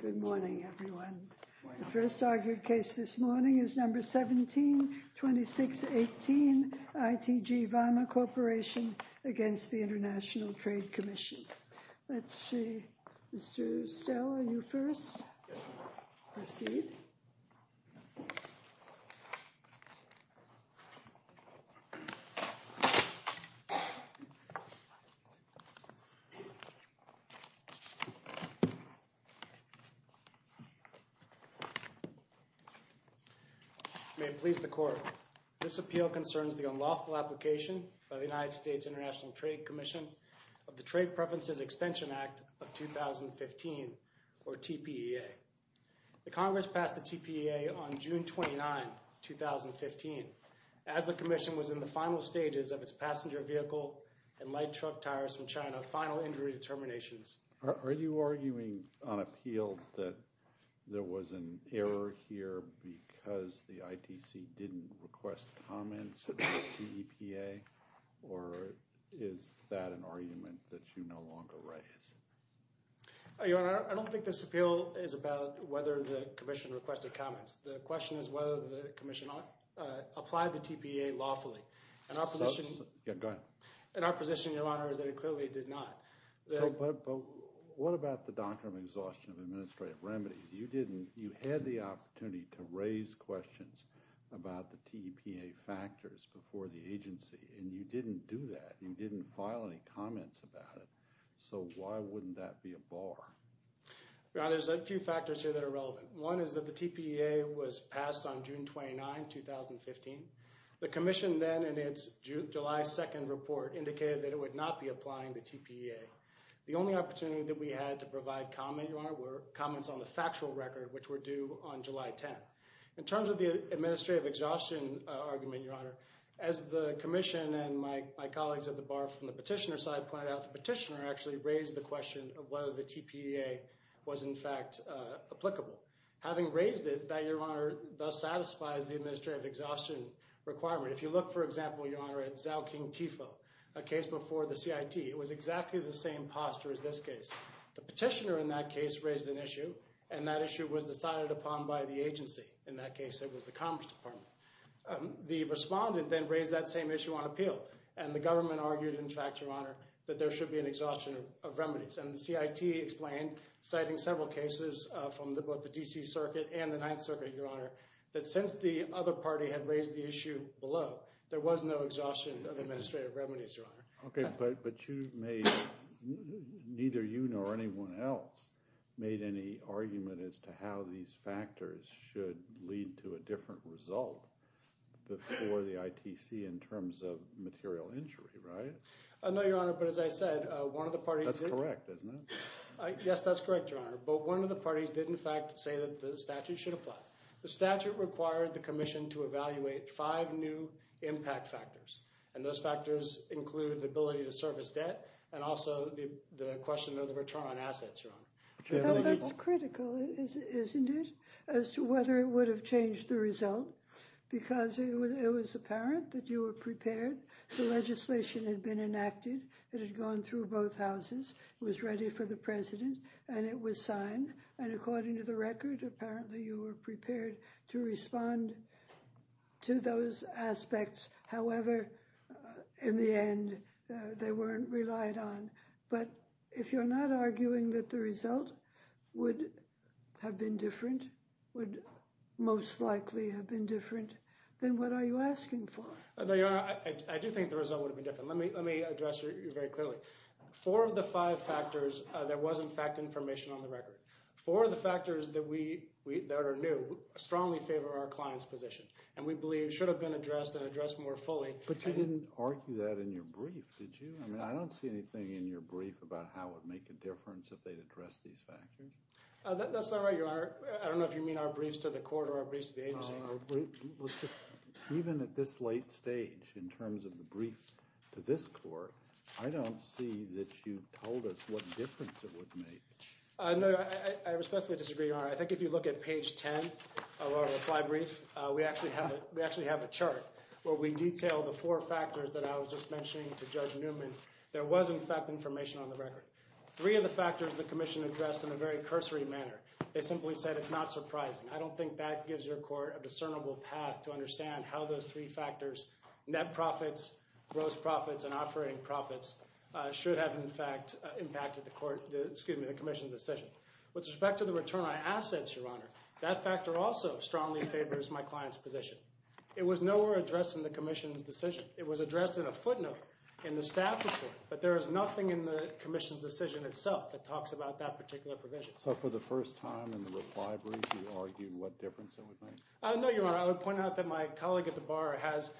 Good morning, everyone. The first argued case this morning is number 172618 ITG Voma Corporation against the International Trade Commission. Let's see. Mr. Stell, are you first? Proceed. May it please the Court. This appeal concerns the unlawful application by the United States International Trade Commission of the Trade Preferences Extension Act of 2015, or TPEA. The Congress passed the TPEA on June 29, 2015, as the Commission was in the final stages of its passenger vehicle and light truck tires from China final injury determinations. Are you arguing on appeal that there was an error here because the ITC didn't request comments about TPEA, or is that an argument that you no longer raise? Your Honor, I don't think this appeal is about whether the Commission requested comments. The question is whether the Commission applied the TPEA lawfully. And our position, Your Honor, is that it clearly did not. But what about the Doctrine of Exhaustion of Administrative Remedies? You had the opportunity to raise questions about the TPEA factors before the agency, and you didn't do that. You didn't file any comments about it. So why wouldn't that be a bar? Your Honor, there's a few factors here that are relevant. One is that the TPEA was passed on June 29, 2015. The Commission then, in its July 2nd report, indicated that it would not be applying the TPEA. The only opportunity that we had to provide comment, Your Honor, were comments on the factual record, which were due on July 10. In terms of the administrative exhaustion argument, Your Honor, as the Commission and my colleagues at the bar from the petitioner side pointed out, the petitioner actually raised the question of whether the TPEA was in fact applicable. Having raised it, that, Your Honor, thus satisfies the administrative exhaustion requirement. If you look, for example, Your Honor, at Zao King Tifo, a case before the CIT, it was exactly the same posture as this case. The petitioner in that case raised an issue, and that issue was decided upon by the agency. In that case, it was the Commerce Department. The respondent then raised that same issue on appeal, and the government argued, in fact, Your Honor, that there should be an exhaustion of remedies. And the CIT explained, citing several cases from both the D.C. Circuit and the Ninth Circuit, there was no exhaustion of administrative remedies, Your Honor. Okay, but you made, neither you nor anyone else made any argument as to how these factors should lead to a different result for the ITC in terms of material injury, right? No, Your Honor, but as I said, one of the parties... That's correct, isn't it? Yes, that's correct, Your Honor, but one of the parties did, in fact, say that the statute should apply. The statute required the Commission to evaluate five new impact factors, and those factors include the ability to service debt and also the question of the return on assets, Your Honor. That's critical, isn't it, as to whether it would have changed the result, because it was apparent that you were prepared. The legislation had been enacted. It had gone through both houses. It was ready for the President, and it was signed, and according to record, apparently you were prepared to respond to those aspects. However, in the end, they weren't relied on, but if you're not arguing that the result would have been different, would most likely have been different, then what are you asking for? No, Your Honor, I do think the result would have been different. Let me address you very clearly. Four of the five factors, there was, in fact, information on the record. Four of the factors that are new strongly favor our client's position, and we believe should have been addressed and addressed more fully. But you didn't argue that in your brief, did you? I mean, I don't see anything in your brief about how it would make a difference if they'd addressed these factors. That's not right, Your Honor. I don't know if you mean our briefs to the court or our briefs to the agency. Even at this late stage, in terms of the brief to this court, I don't see that you told us what difference it would make. No, I respectfully disagree, Your Honor. I think if you look at page 10 of our reply brief, we actually have a chart where we detail the four factors that I was just mentioning to Judge Newman. There was, in fact, information on the record. Three of the factors the commission addressed in a very cursory manner. They simply said it's not surprising. I don't think that gives your court a discernible path to understand how those three factors—net profits, gross profits, and operating profits—should have, in fact, impacted the commission's decision. With respect to the return on assets, Your Honor, that factor also strongly favors my client's position. It was nowhere addressed in the commission's decision. It was addressed in a footnote in the staff report, but there is nothing in the commission's decision itself that talks about that particular provision. So for the first time in the reply brief, you argued what difference it would make? No, Your Honor. I would point out that my colleague at the bar has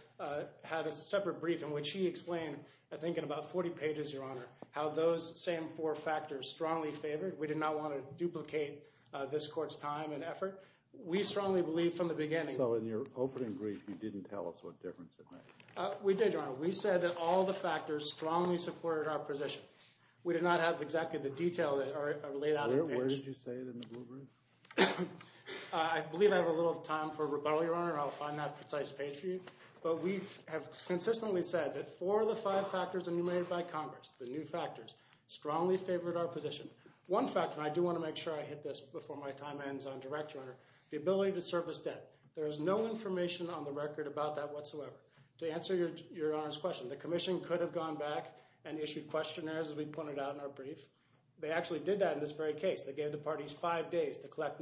had a separate brief in which he explained, I think in about 40 pages, Your Honor, how those same four factors strongly favored. We did not want to duplicate this court's time and effort. We strongly believe from the beginning— So in your opening brief, you didn't tell us what difference it made. We did, Your Honor. We said that all the factors strongly supported our position. We did not have exactly the detail that are laid out in the brief. Where did you say it in the blue brief? I believe I have a little time for rebuttal, Your Honor. I'll find that precise page for you. But we have consistently said that four of the five factors enumerated by Congress, the new factors, strongly favored our position. One factor—and I do want to make sure I hit this before my time ends on direct, Your Honor—the ability to service debt. There is no information on the record about that whatsoever. To answer Your Honor's question, the commission could have gone back and issued questionnaires, as we pointed out in our brief. They actually did that in this very case. They gave the parties five days to do that.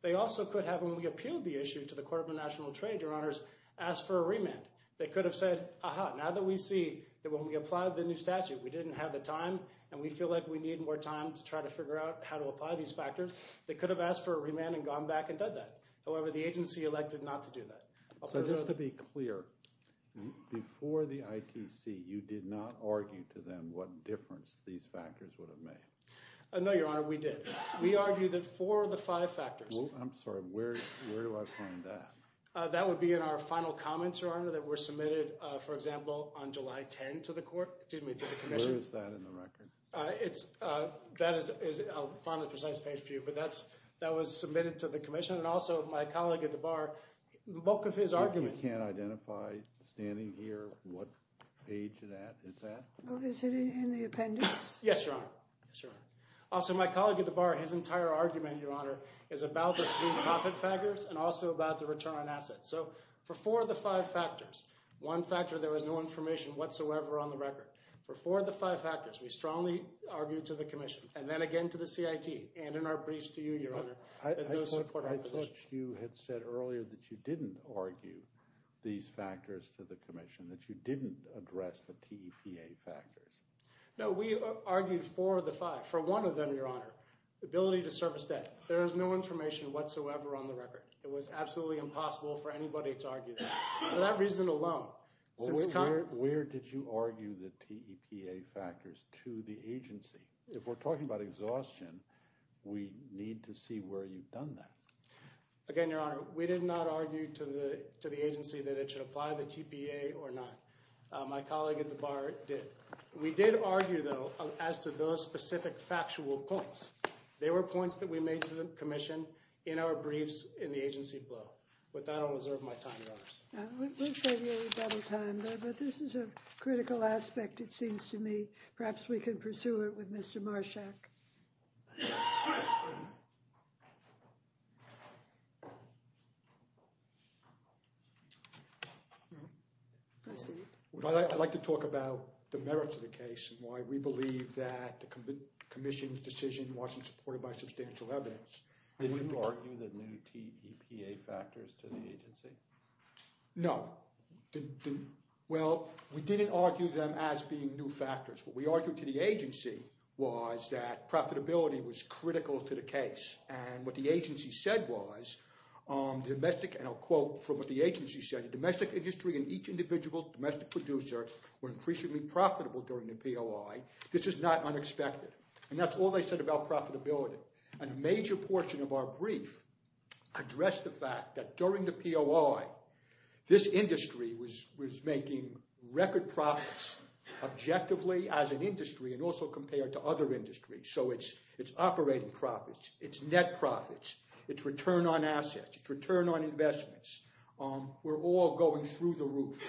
They also could have, when we appealed the issue to the Court of National Trade, Your Honors, asked for a remand. They could have said, aha, now that we see that when we applied the new statute, we didn't have the time and we feel like we need more time to try to figure out how to apply these factors, they could have asked for a remand and gone back and done that. However, the agency elected not to do that. So just to be clear, before the ITC, you did not argue to them what difference these factors would have made? No, Your Honor, we did. We argued that four of five factors— I'm sorry, where do I find that? That would be in our final comments, Your Honor, that were submitted, for example, on July 10 to the commission. Where is that in the record? That is—I'll find the precise page for you—but that was submitted to the commission and also my colleague at the bar, the bulk of his argument— You can't identify, standing here, what page is that? Oh, is it in the appendix? Yes, Your Honor. Also, my colleague at the bar, his entire argument, Your Honor, is about the three profit factors and also about the return on assets. So, for four of the five factors, one factor there was no information whatsoever on the record. For four of the five factors, we strongly argued to the commission and then again to the CIT and in our briefs to you, Your Honor, that those support our position. I thought you had said earlier that you didn't argue these factors to the commission, that you didn't address the TEPA factors. No, we argued for the five, for one of them, Your Honor, ability to service debt. There is no information whatsoever on the record. It was absolutely impossible for anybody to argue that, for that reason alone. Where did you argue the TEPA factors to the agency? If we're talking about exhaustion, we need to see where you've done that. Again, Your Honor, we did not argue to the agency that it should apply the TPA or not. My colleague at the bar did. We did argue, though, as to those specific factual points. They were points that we made to the commission in our briefs in the agency below. With that, I'll reserve my time, Your Honors. We'll save you a little time there, but this is a critical aspect, it seems to me. Perhaps we can pursue it with Mr. Marshak. I'd like to talk about the merits of the case and why we believe that the commission's decision wasn't supported by substantial evidence. Did you argue the new TEPA factors to the agency? No. Well, we didn't argue them as being new factors. What we argued to the agency was that profitability was critical to the case. And what the agency said was, the domestic, and I'll quote from what the agency said, the domestic industry and each individual domestic producer were increasingly profitable during the POI. This is not unexpected. And that's all they said about profitability. And a major portion of our brief addressed the fact that during the POI, this industry was making record profits objectively as an industry and also compared to other industries. So it's operating profits, it's net profits, it's return on assets, it's return on investments. We're all going through the roof.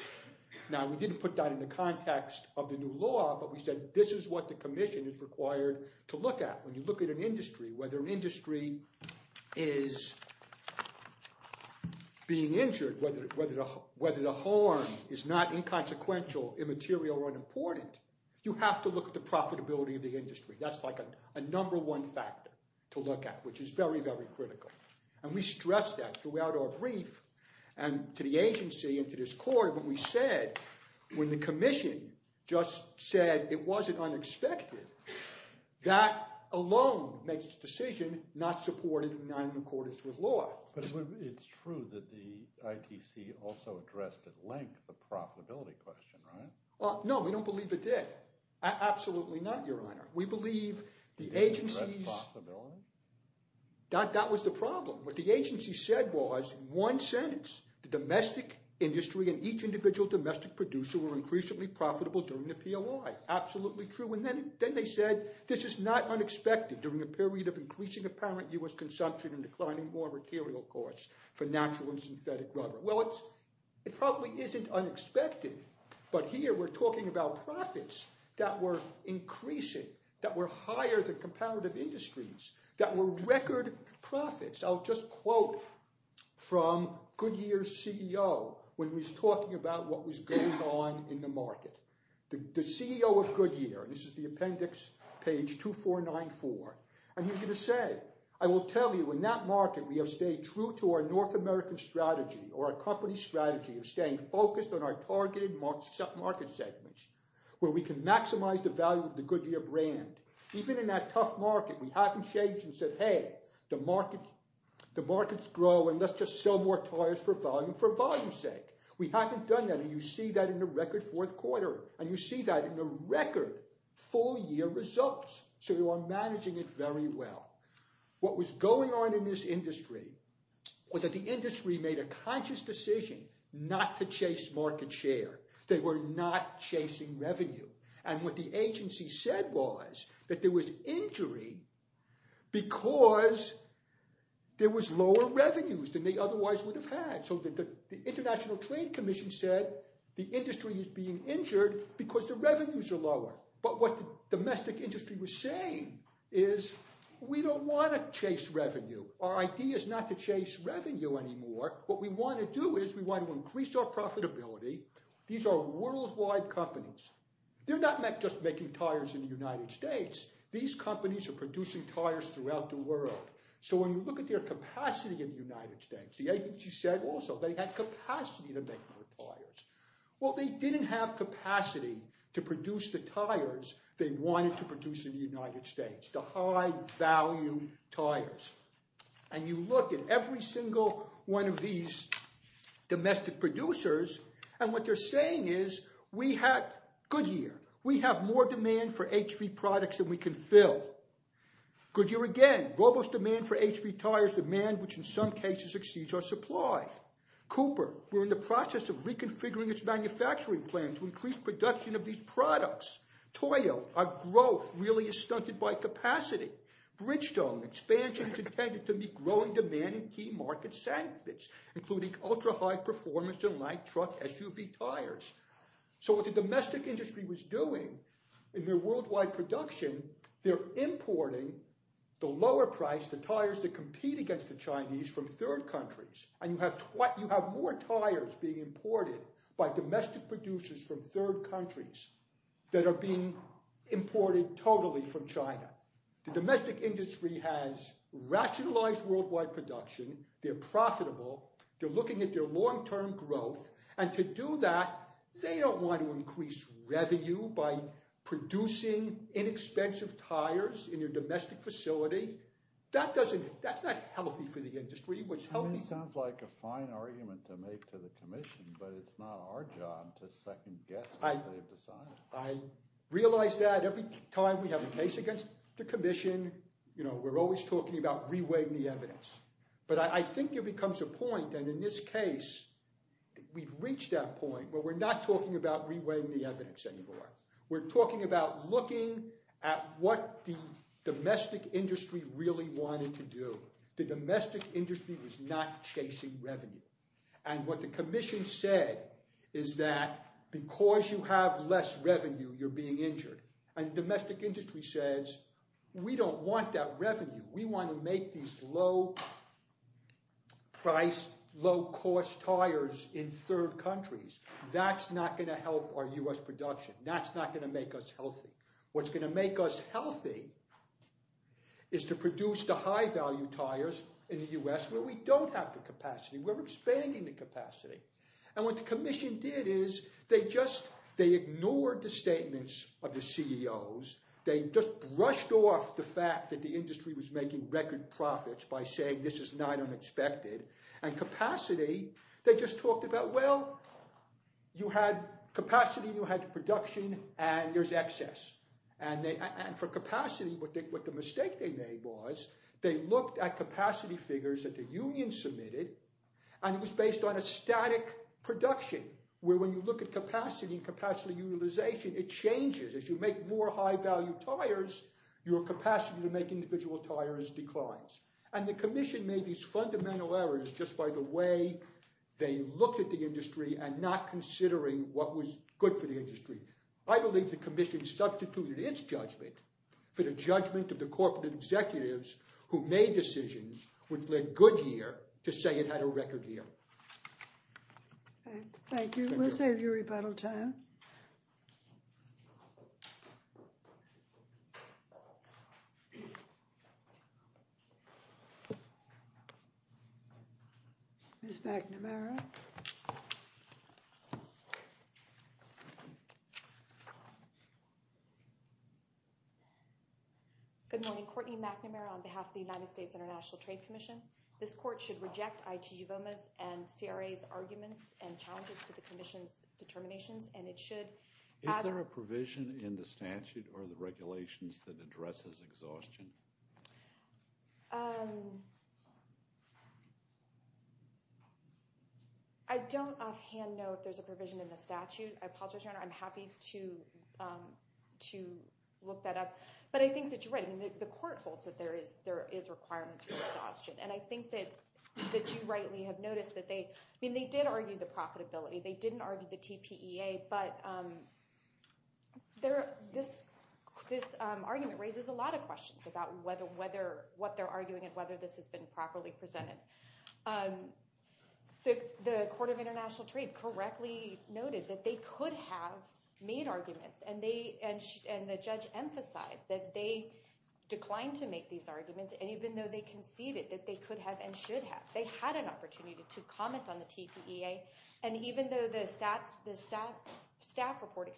Now, we didn't put that in the context of the new law, but we said, this is what the commission is required to look at. When you look at an industry, whether an industry is being injured, whether the harm is not inconsequential, immaterial, or unimportant, you have to look at the profitability of the industry. That's like a number one factor to look at, which is very, very critical. And we stressed that throughout our brief and to the agency and to this court. But we said, when the commission just said it wasn't unexpected, that alone makes the decision not supported in the nine and a quarter's rule of law. But it's true that the ITC also addressed at length the profitability question, right? No, we don't believe it did. Absolutely not, Your Honor. We believe the agency's- It addressed profitability? That was the problem. What the agency said was, one sentence, the domestic industry and each individual domestic producer were increasingly profitable during the POI. Absolutely true. And then they said, this is not unexpected during a period of increasing apparent U.S. consumption and declining more material costs for natural and synthetic rubber. Well, it probably isn't unexpected, but here we're talking about profits that were increasing, that were higher than comparative industries, that were record profits. I'll just quote from Goodyear's CEO when he's talking about what was going on in the market. The CEO of Goodyear, and this is the appendix page 2494, and he was going to say, I will tell you, in that market, we have stayed true to our North American strategy or our company strategy of staying focused on our targeted market segments, where we can maximize the value of the Goodyear brand. Even in that tough market, we haven't changed and said, hey, the markets grow and let's just sell more tires for volume for volume's sake. We haven't done that. And you see that in the record fourth quarter, and you see that in the record full year results. So you are managing it very well. What was going on in this industry was that the industry made a conscious decision not to chase market share. They were not chasing revenue. And what the agency said was that there was injury because there was lower revenues than otherwise would have had. So the International Trade Commission said the industry is being injured because the revenues are lower. But what the domestic industry was saying is we don't want to chase revenue. Our idea is not to chase revenue anymore. What we want to do is we want to increase our profitability. These are worldwide companies. They're not just making tires in the United States. These companies are producing tires throughout the world. So when we look at their tires, the agency said also they had capacity to make more tires. Well, they didn't have capacity to produce the tires they wanted to produce in the United States, the high value tires. And you look at every single one of these domestic producers, and what they're saying is we had good year. We have more demand for HP products than we can fill. Good year again, robust demand for HP tires, demand which in some cases exceeds our supply. Cooper, we're in the process of reconfiguring its manufacturing plan to increase production of these products. Toyo, our growth really is stunted by capacity. Bridgestone, expansion is intended to meet growing demand in key market segments, including ultra-high performance in light truck SUV tires. So what the domestic industry was doing in their worldwide production, they're importing the lower price, the tires that compete against the Chinese from third countries. And you have more tires being imported by domestic producers from third countries that are being imported totally from China. The domestic industry has rationalized worldwide production. They're profitable. They're looking at their long-term growth. And to do that, they don't want to increase revenue by producing inexpensive tires in your domestic facility. That's not healthy for the industry. It sounds like a fine argument to make to the commission, but it's not our job to second guess what they've decided. I realize that every time we have a case against the commission, we're always talking about reweighing the evidence. But I think it becomes a point where we're not talking about reweighing the evidence anymore. We're talking about looking at what the domestic industry really wanted to do. The domestic industry was not chasing revenue. And what the commission said is that because you have less revenue, you're being injured. And domestic industry says, we don't want that revenue. We want to make these low cost tires in third countries. That's not going to help our U.S. production. That's not going to make us healthy. What's going to make us healthy is to produce the high value tires in the U.S. where we don't have the capacity. We're expanding the capacity. And what the commission did is they ignored the statements of the CEOs. They just brushed off the fact that the industry was making record profits by saying this is not unexpected. And capacity, they just talked about, well, you had capacity, you had production, and there's excess. And for capacity, what the mistake they made was they looked at capacity figures that the union submitted, and it was based on a static production where when you look at capacity and capacity utilization, it changes. If you make more high value tires, your capacity to make individual tires declines. And the commission made these fundamental errors just by the way they looked at the industry and not considering what was good for the industry. I believe the commission substituted its judgment for the judgment of the corporate executives who made decisions which led Goodyear to say it had record yield. Thank you. We'll save you rebuttal time. Ms. McNamara. Good morning. Courtney McNamara on behalf of the United States International Trade Commission. This court should reject ITU-VOMA's and CRA's arguments and challenges to the commission's determinations, and it should- Is there a provision in the statute or the regulations that addresses exhaustion? I don't offhand know if there's a provision in the statute. I apologize, Your Honor. I'm happy to look that up. But I think that you're right. The court holds there is requirements for exhaustion. And I think that you rightly have noticed that they did argue the profitability. They didn't argue the TPEA. But this argument raises a lot of questions about what they're arguing and whether this has been properly presented. The Court of International Trade correctly noted that they could have made arguments, and the judge emphasized that they declined to make these arguments. And even though they conceded that they could have and should have, they had an opportunity to comment on the TPEA. And even though the staff report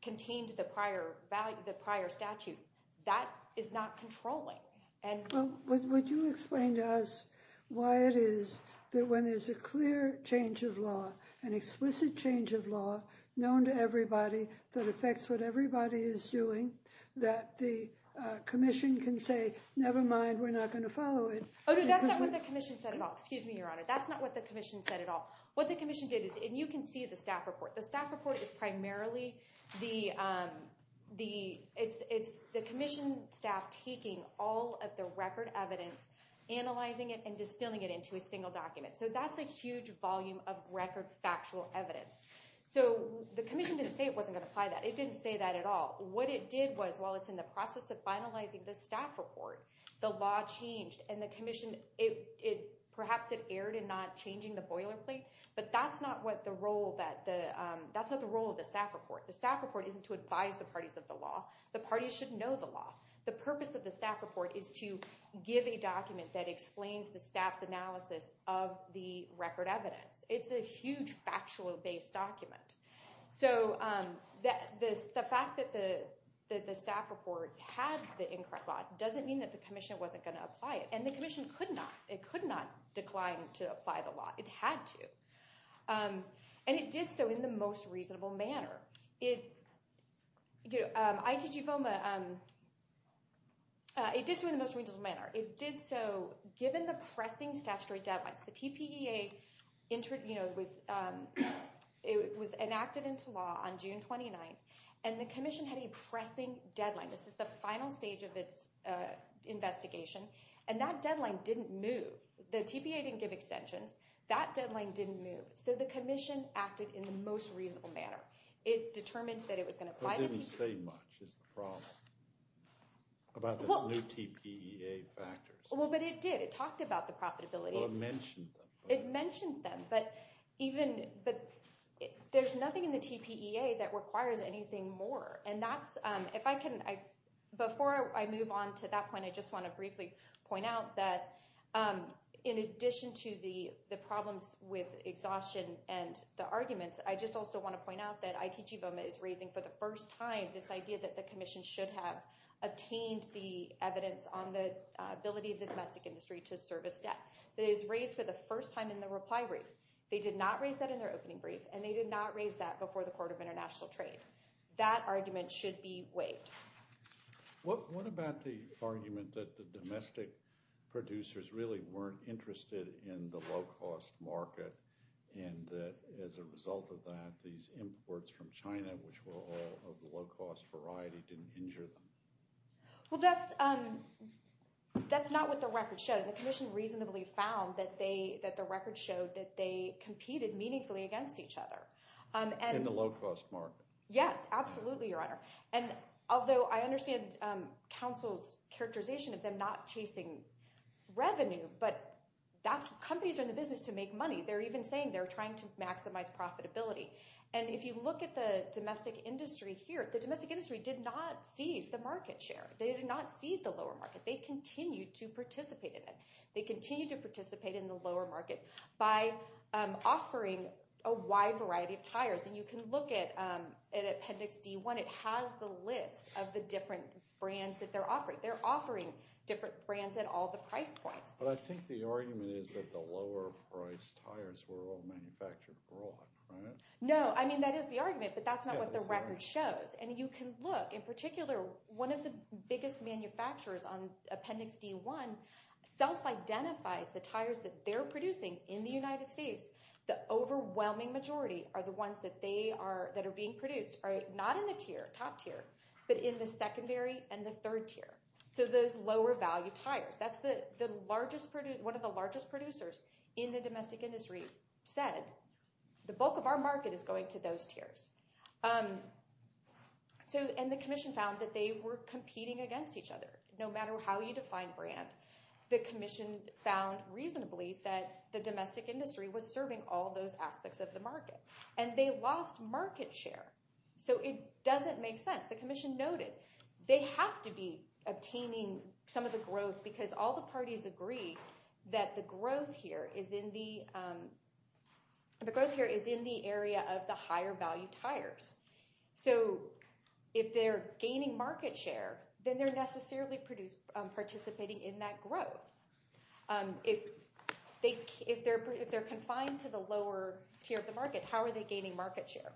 contained the prior statute, that is not controlling. Well, would you explain to us why it is that when there's a clear change of law, an explicit change of law known to everybody that affects what everybody is doing, that the commission can say, never mind, we're not going to follow it? Oh, no. That's not what the commission said at all. Excuse me, Your Honor. That's not what the commission said at all. What the commission did is- And you can see the staff report. The staff report is primarily the commission staff taking all of the record evidence, analyzing it, and distilling it into a single document. So that's a huge volume of record factual evidence. So the commission didn't say it wasn't going to apply that. It didn't say that at all. What it did was, while it's in the process of finalizing the staff report, the law changed, and the commission- Perhaps it erred in not changing the boilerplate, but that's not the role of the staff report. The staff report isn't to advise the parties of the law. The parties should know the law. The purpose of the staff report is to give a document that explains the analysis of the record evidence. It's a huge factual-based document. So the fact that the staff report had the incorrect law doesn't mean that the commission wasn't going to apply it. And the commission could not. It could not decline to apply the law. It had to. And it did so in the most reasonable manner. ITG FOMA, it did so in the most reasonable manner. It did so given the pressing statutory deadlines. The TPEA was enacted into law on June 29th, and the commission had a pressing deadline. This is the final stage of its investigation. And that deadline didn't move. The TPEA didn't give extensions. That deadline didn't move. So the commission acted in the most reasonable manner. It determined that it was going to apply- Didn't say much is the problem about the new TPEA factors. Well, but it did. It talked about the profitability. Well, it mentioned them. It mentioned them. But there's nothing in the TPEA that requires anything more. And that's- Before I move on to that point, I just want to briefly point out that in addition to the problems with exhaustion and the arguments, I just also want to point out that ITG FOMA is raising for the first time this idea that the commission should have obtained the evidence on the ability of the domestic industry to service debt. It is raised for the first time in the reply brief. They did not raise that in their opening brief, and they did not raise that before the Court of International Trade. That argument should be waived. What about the argument that the domestic producers really weren't interested in the low-cost variety, didn't injure them? Well, that's not what the record showed. The commission reasonably found that the record showed that they competed meaningfully against each other. In the low-cost market. Yes, absolutely, Your Honor. And although I understand counsel's characterization of them not chasing revenue, but companies are in the business to make money. They're even saying they're trying to maximize profitability. And if you look at the domestic industry here, the domestic industry did not cede the market share. They did not cede the lower market. They continued to participate in it. They continued to participate in the lower market by offering a wide variety of tires. And you can look at Appendix D1. It has the list of the different brands that they're offering. They're offering different brands at all the price points. But I think the argument is that the lower-priced tires were all manufactured abroad, right? No. I mean, that is the argument, but that's not what the record shows. And you can look. In particular, one of the biggest manufacturers on Appendix D1 self-identifies the tires that they're producing in the United States. The overwhelming majority are the ones that are being produced, not in the top tier, but in the secondary and the third tier. So those lower-value tires. That's one of the largest producers in the domestic industry said, the bulk of our market is going to those tiers. And the commission found that they were competing against each other. No matter how you define brand, the commission found reasonably that the domestic industry was serving all those aspects of the market. And they lost market share. So it doesn't make sense. The commission noted they have to be obtaining some of the growth because all the parties agree that the growth here is in the area of the higher-value tires. So if they're gaining market share, then they're necessarily participating in that growth. If they're confined to the lower tier of the market, how are they gaining market share?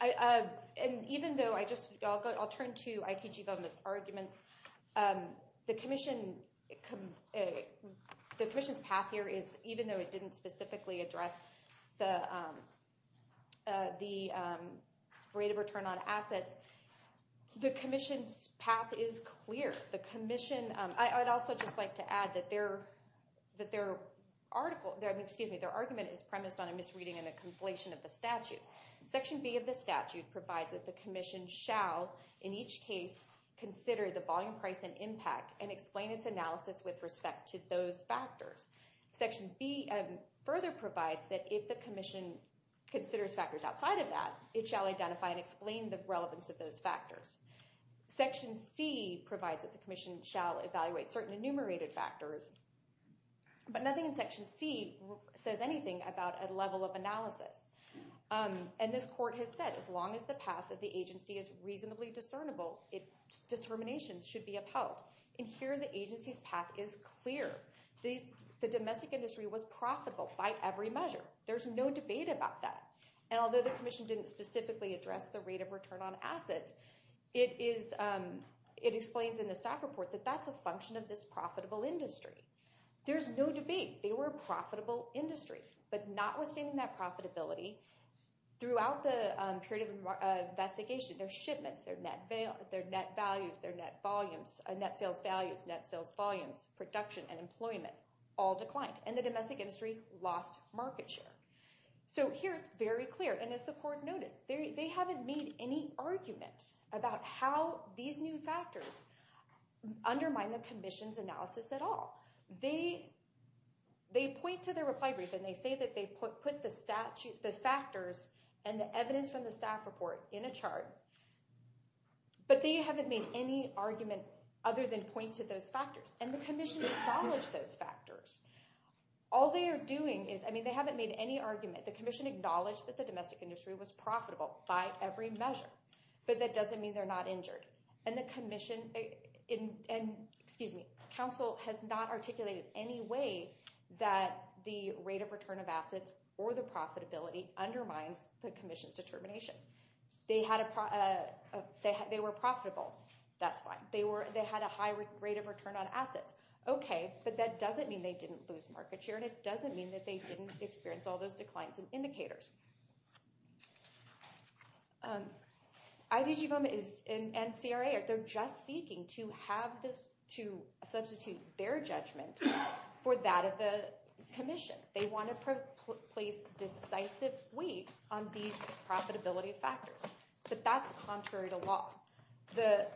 And even though I just—I'll turn to I.T. Giovanna's arguments. The commission's path here is, even though it didn't specifically address the rate of return on assets, the commission's argument is premised on a misreading and a conflation of the statute. Section B of the statute provides that the commission shall, in each case, consider the volume, price, and impact and explain its analysis with respect to those factors. Section B further provides that if the commission considers factors outside of that, it shall identify and explain the relevance of those factors. Section C provides that the commission shall evaluate certain enumerated factors, but nothing in Section C says anything about a level of analysis. And this court has said, as long as the path of the agency is reasonably discernible, determinations should be upheld. And here, the agency's path is clear. The domestic industry was profitable by every measure. There's no debate about that. And although the commission didn't specifically address the rate of return on assets, it explains in the staff report that that's a function of this profitable industry. There's no debate. They were a profitable industry. But notwithstanding that profitability, throughout the period of investigation, their shipments, their net values, their net sales values, net sales volumes, production, and employment all declined. And the domestic industry lost market share. So here, it's very clear. And as the court noticed, they haven't made any argument about how these new factors, undermine the commission's analysis at all. They point to their reply brief, and they say that they put the factors and the evidence from the staff report in a chart. But they haven't made any argument other than point to those factors. And the commission acknowledged those factors. All they are doing is, I mean, they haven't made any argument. The commission acknowledged that the domestic industry was profitable by every measure. But that doesn't mean they're not and excuse me, counsel has not articulated any way that the rate of return of assets or the profitability undermines the commission's determination. They were profitable. That's fine. They had a high rate of return on assets. Okay, but that doesn't mean they didn't lose market share. And it doesn't mean that they didn't experience all those declines and indicators. IDGBOMA and CRA, they're just seeking to substitute their judgment for that of the commission. They want to place decisive weight on these profitability factors. But that's contrary to law. The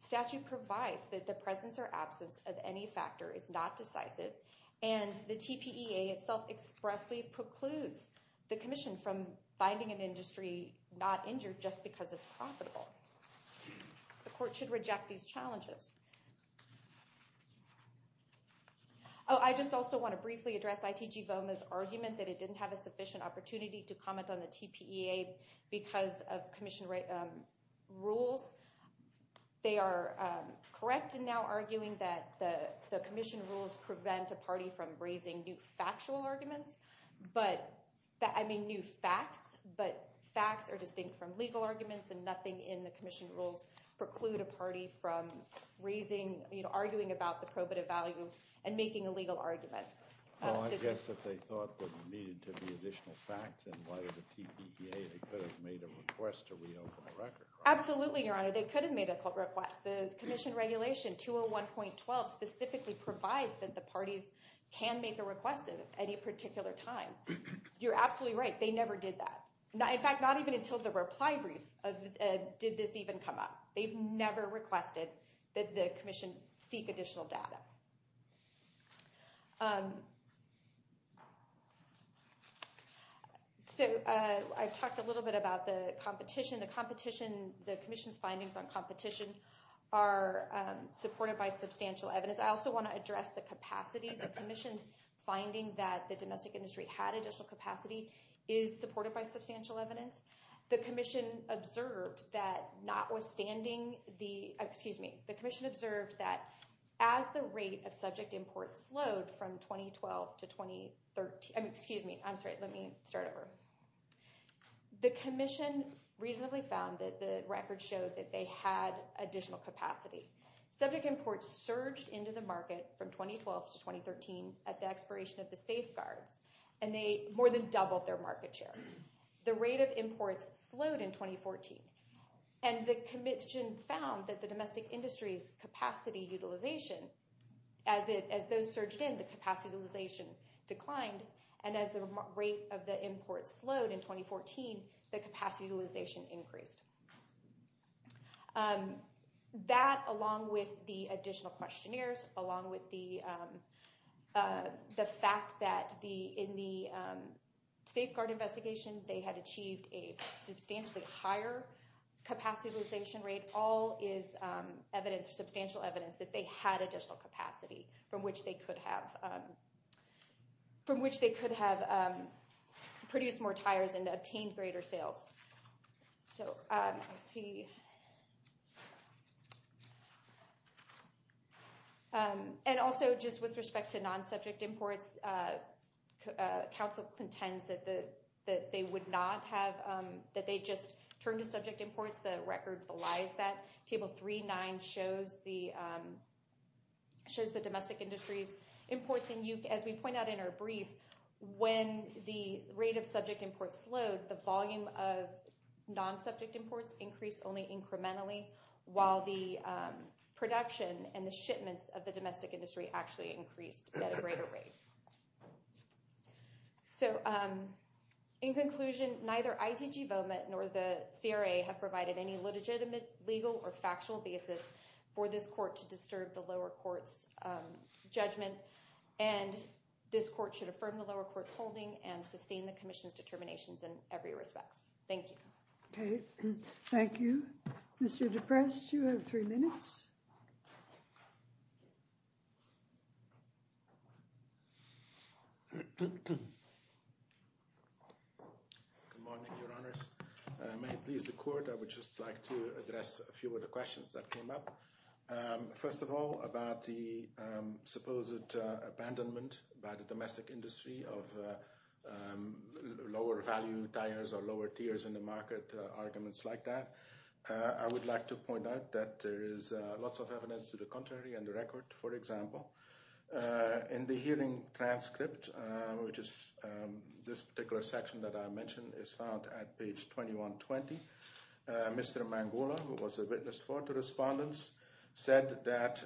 statute provides that the presence or absence of any factor is not precludes the commission from finding an industry not injured just because it's profitable. The court should reject these challenges. Oh, I just also want to briefly address IDGBOMA's argument that it didn't have a sufficient opportunity to comment on the TPEA because of commission rules. They are correct in now arguing that the commission rules prevent a party from raising new factual arguments, I mean new facts, but facts are distinct from legal arguments and nothing in the commission rules preclude a party from raising, you know, arguing about the probative value and making a legal argument. Oh, I guess that they thought there needed to be additional facts and whether the TPEA, they could have made a request to reopen the record. Absolutely, your honor. They could have made a request. The commission regulation 201.12 specifically provides that the parties can make a request at any particular time. You're absolutely right. They never did that. In fact, not even until the reply brief did this even come up. They've never requested that the commission seek additional data. So I've talked a little bit about the competition. The competition, the commission's findings on I also want to address the capacity. The commission's finding that the domestic industry had additional capacity is supported by substantial evidence. The commission observed that notwithstanding the, excuse me, the commission observed that as the rate of subject imports slowed from 2012 to 2013, excuse me, I'm sorry, let me start over. The commission reasonably found that the record showed that they had additional capacity. Subject imports surged into the market from 2012 to 2013 at the expiration of the safeguards, and they more than doubled their market share. The rate of imports slowed in 2014, and the commission found that the domestic industry's capacity utilization, as those surged in, the capacity utilization declined, and as the rate of the imports slowed in 2014, the capacity utilization increased. That, along with the additional questionnaires, along with the fact that in the safeguard investigation, they had achieved a substantially higher capacity utilization rate, all is evidence, substantial evidence, that they had additional capacity from which they could have produced more tires and obtained greater sales. So, I see, and also just with respect to non-subject imports, council contends that they would not have, that they just turned to subject imports. The record belies that. Table 3.9 shows the domestic industry's imports, and as we point out in our brief, when the rate of subject imports slowed, the volume of non-subject imports increased only incrementally, while the production and the shipments of the domestic industry actually increased at a greater rate. So, in conclusion, neither ITG Vomit nor the CRA have provided any legitimate legal or factual basis for this court to disturb the lower court's judgment, and this court should affirm the lower court's holding and sustain the commission's determinations in every respects. Thank you. Okay, thank you. Mr. DePrest, you have three minutes. Good morning, your honors. May it please the court, I would just like to address a few of the questions that came up. First of all, about the supposed abandonment by the domestic industry of lower value tires or lower tiers in the market, arguments like that. I would like to point out that there is lots of evidence to the contrary in the record, for example. In the hearing transcript, which is this particular section that I mentioned, is found at page 2120. Mr. Mangola, who was a witness for the respondents, said that,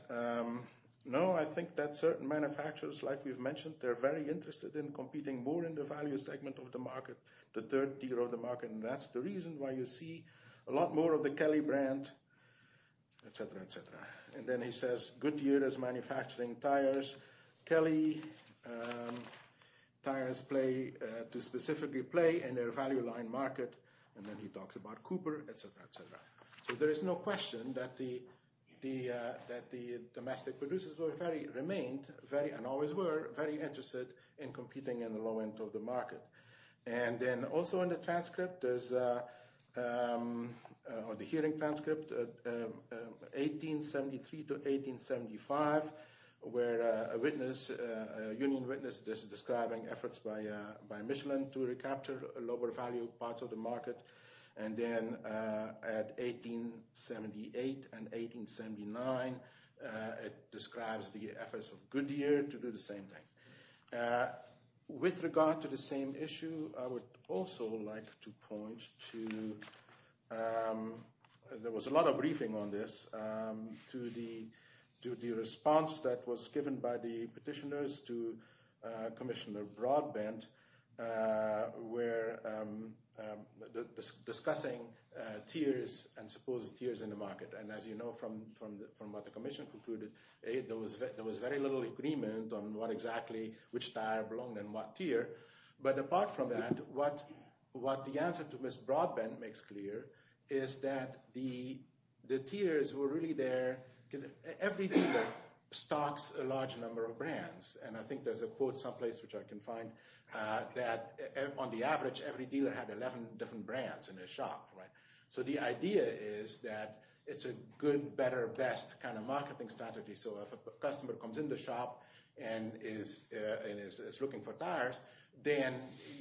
no, I think that certain manufacturers, like we've mentioned, they're very interested in competing more in the value segment of the market, the third tier of the market, and that's the reason why you see a lot more of the Kelly brand etc., etc. And then he says, Goodyear is manufacturing tires, Kelly tires play, to specifically play in their value line market, and then he talks about Cooper, etc., etc. So there is no question that the domestic producers were very, remained very, and always were, very interested in competing in the low end of the market. And then also in the transcript, there's, on the hearing transcript, 1873 to 1875, where a witness, a union witness, is describing efforts by Michelin to recapture lower value parts of the market. And then at 1878 and 1879, it describes the efforts of Goodyear to do the same thing. With regard to the same issue, I would also like to point to, there was a lot of briefing on this, to the response that was given by the petitioners to Commissioner Broadbent, where discussing tiers and supposed tiers in the market. And as you know, from what the commission concluded, there was very little agreement on what exactly, which tire belonged in what tier. But apart from that, what the answer to Miss Broadbent makes clear is that the tiers were really there, every dealer stocks a large number of brands. And I think there's a quote someplace which I can find, that on the average, every dealer had 11 different brands in their shop, right? So the idea is that it's a good, better, best kind of marketing strategy. So if a customer comes in the shop and is looking for tires, then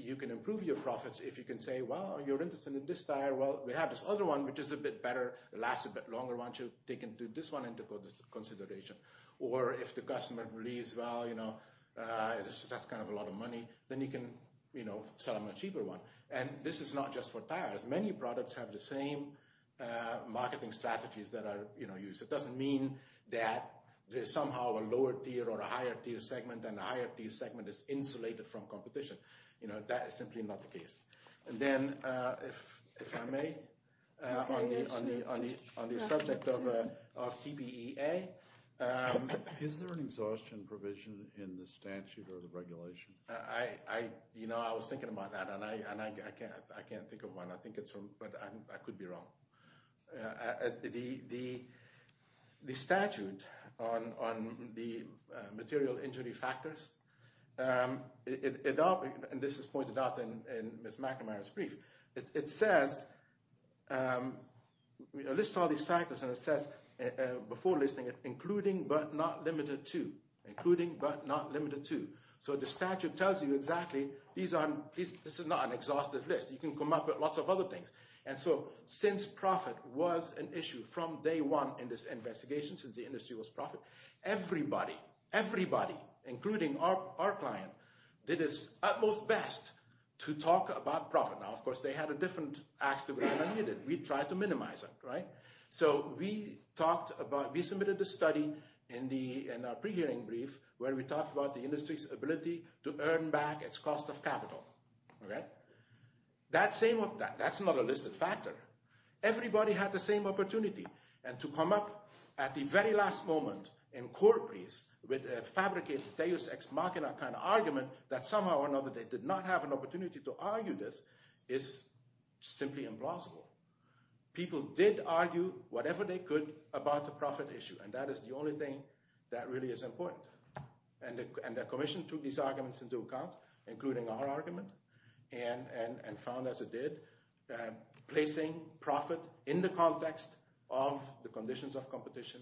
you can improve your profits. If you can say, well, you're interested in this tire, well, we have this other one, which is a bit better, lasts a bit longer, why don't you take this one into consideration? Or if the customer believes, well, you know, that's kind of a lot of money, then you can, you know, sell them a cheaper one. And this is not just for tires. Many products have the same marketing strategies that are, you know, used. It doesn't mean that there's somehow a lower tier or a higher tier segment, and the higher tier segment is insulated from competition. You know, that is simply not the case. And then, if I may, on the subject of TPEA. Is there an exhaustion provision in the statute or the regulation? I, you know, I was thinking about that, and I can't think of one. I think it's from, but I could be wrong. The statute on the material injury factors, and this is pointed out in Ms. McNamara's brief, it says, it lists all these factors and it says, before listing it, including but not limited to. Including but not limited to. So the statute tells you exactly, these aren't, this is not an exhaustive list. You can come up with lots of other things. And so, since profit was an issue from day one in this investigation, since the industry was profit, everybody, everybody, including our client, did his utmost best to talk about profit. Now, of course, they had a different We tried to minimize it, right? So we talked about, we submitted the study in the, in our pre-hearing brief, where we talked about the industry's ability to earn back its cost of capital. Okay? That same, that's not a listed factor. Everybody had the same opportunity. And to come up at the very last moment, in court briefs, with a fabricated deus ex machina kind of argument, that somehow or another they did not have an opportunity to argue this, is simply implausible. People did argue whatever they could about the profit issue, and that is the only thing that really is important. And the commission took these arguments into account, including our argument, and found, as it did, placing profit in the context of the conditions of competition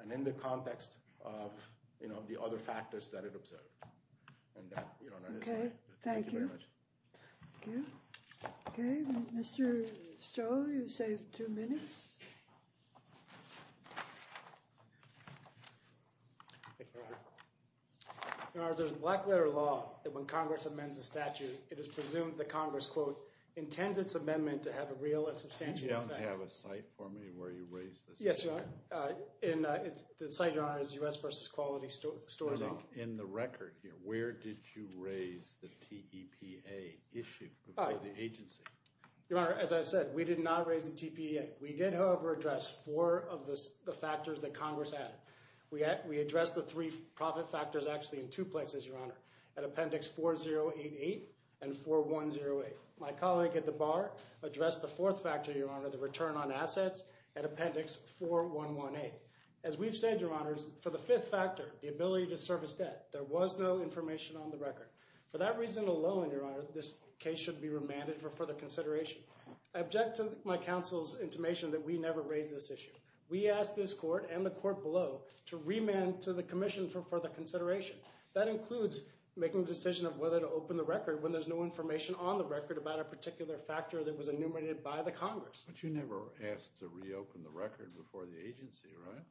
and in the context of, you know, the other factors that it observed. Okay, thank you. Okay, Mr. Stroh, you saved two minutes. Your Honor, there's a black letter law that when Congress amends a statute, it is presumed that Congress, quote, intends its amendment to have a real and substantial effect. Do you have a site for me where you raised this? Yes, Your Honor. The site, Your Honor, is U.S. versus Quality Stores Inc. In the record here, where did you raise the TEPA issue before the agency? Your Honor, as I said, we did not raise the TEPA. We did, however, address four of the factors that Congress added. We addressed the three profit factors actually in two places, Your Honor, at Appendix 4088 and 4108. My colleague at the bar addressed the fourth factor, Your Honor, the return on assets at Appendix 4118. As we've said, Your Honors, for the fifth factor, the ability to service debt, there was no information on the record. For that reason alone, Your Honor, this case should be remanded for further consideration. I object to my counsel's intimation that we never raised this issue. We asked this court and the court below to remand to the commission for further consideration. That includes making a decision of whether to open the record when there's no information on the record about a particular factor that was enumerated by the Congress. But you never asked to reopen the record before the agency, right?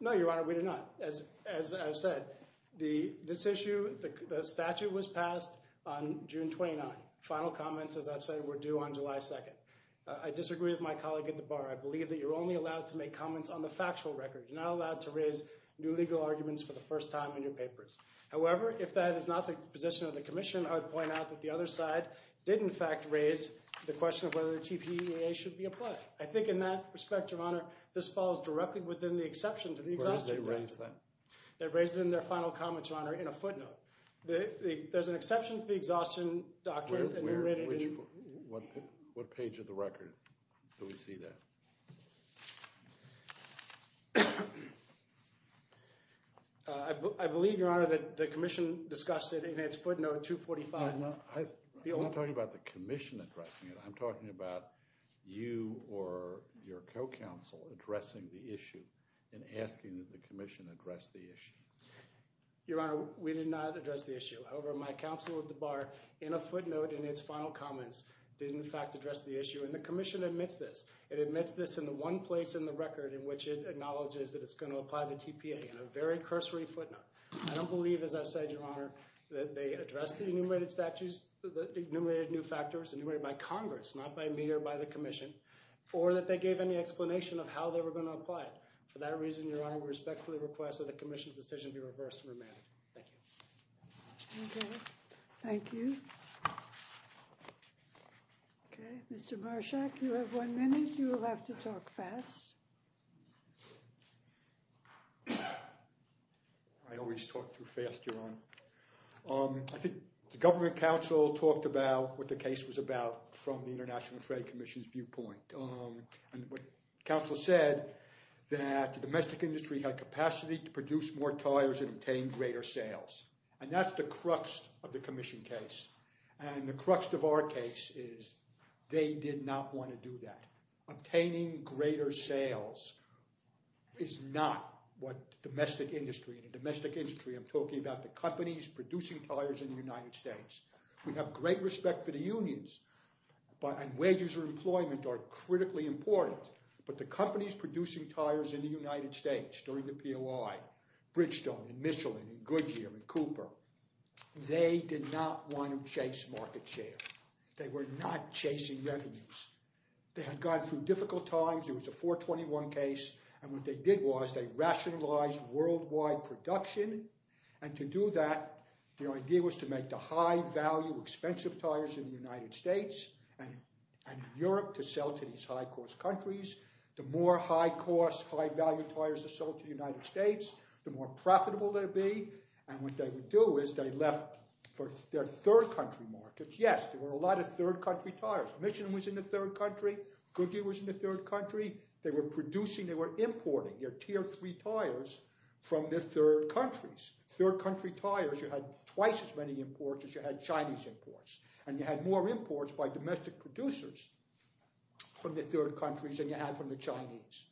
No, Your Honor, we did not. As I've said, this issue, the statute was passed on June 29. Final comments, as I've said, were due on July 2nd. I disagree with my colleague at the bar. I believe that you're only allowed to make comments on the factual record. You're not allowed to raise new legal arguments for the first time in your papers. However, if that is not the position of the commission, I would point out that the other side did in fact raise the question of whether the TEPA should be applied. I think in that respect, Your Honor, this falls directly within the exception to the exhaustion record. Where did they raise that? They raised it in their final comments, Your Honor, in a footnote. There's an exception to the exhaustion doctrine. What page of the record do we see that? I believe, Your Honor, that the commission discussed it in its footnote 245. I'm not talking about the commission addressing it. I'm talking about you or your co-counsel addressing the issue and asking that the commission address the issue. Your Honor, we did not address the issue. However, my counsel at the bar in a footnote in its final comments did in fact address the issue and the commission admits this. It admits this in the one place in the record in which it acknowledges that it's going to apply the TEPA in a very cursory footnote. I don't believe, as I've said, Your Honor, that they addressed the enumerated statutes, the enumerated new factors, enumerated by Congress, not by me or by the commission, or that they gave any explanation of how they were going to apply it. For that reason, Your Honor, we respectfully request that the commission's decision be reversed and remanded. Thank you. Thank you. Okay, Mr. Marshak, you have one minute. You will have to talk fast. I always talk too fast, Your Honor. I think the government counsel talked about what the case was about from the International Trade Commission's viewpoint. And what counsel said, that the domestic industry had capacity to produce more tires and obtain greater sales. And that's the crux of the commission case. And the crux of our case is they did not want to do that. Obtaining greater sales is not what domestic industry and domestic industry, I'm talking about companies producing tires in the United States. We have great respect for the unions, but wages or employment are critically important. But the companies producing tires in the United States during the POI, Bridgestone and Michelin and Goodyear and Cooper, they did not want to chase market share. They were not chasing revenues. They had gone through difficult times. It was a 421 case. And what they did was they rationalized worldwide production. And to do that, the idea was to make the high value, expensive tires in the United States and Europe to sell to these high cost countries. The more high cost, high value tires to sell to the United States, the more profitable they'd be. And what they would do is they left for their third country markets. Yes, there were a lot of third country tires. Michelin was in the third country. Goodyear was in the third country. They were producing, they were importing your tier three tires from their third countries. Third country tires, you had twice as many imports as you had Chinese imports. And you had more imports by domestic producers from the third countries than you had from the Chinese.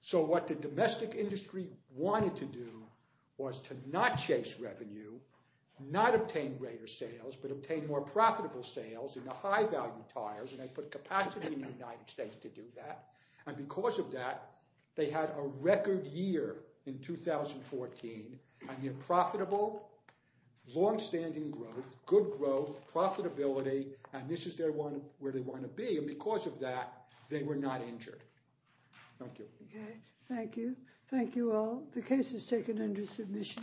So what the domestic industry wanted to do was to not chase revenue, not obtain greater sales, but obtain more profitable sales in the high value tires. And they put capacity in the United States to do that. And because of that, they had a record year in 2014. And their profitable, longstanding growth, good growth, profitability, and this is their one where they want to be. And because of that, they were not injured. Thank you. Okay, thank you. Thank you all. The case is taken under submission. Transcribed by https://otter.ai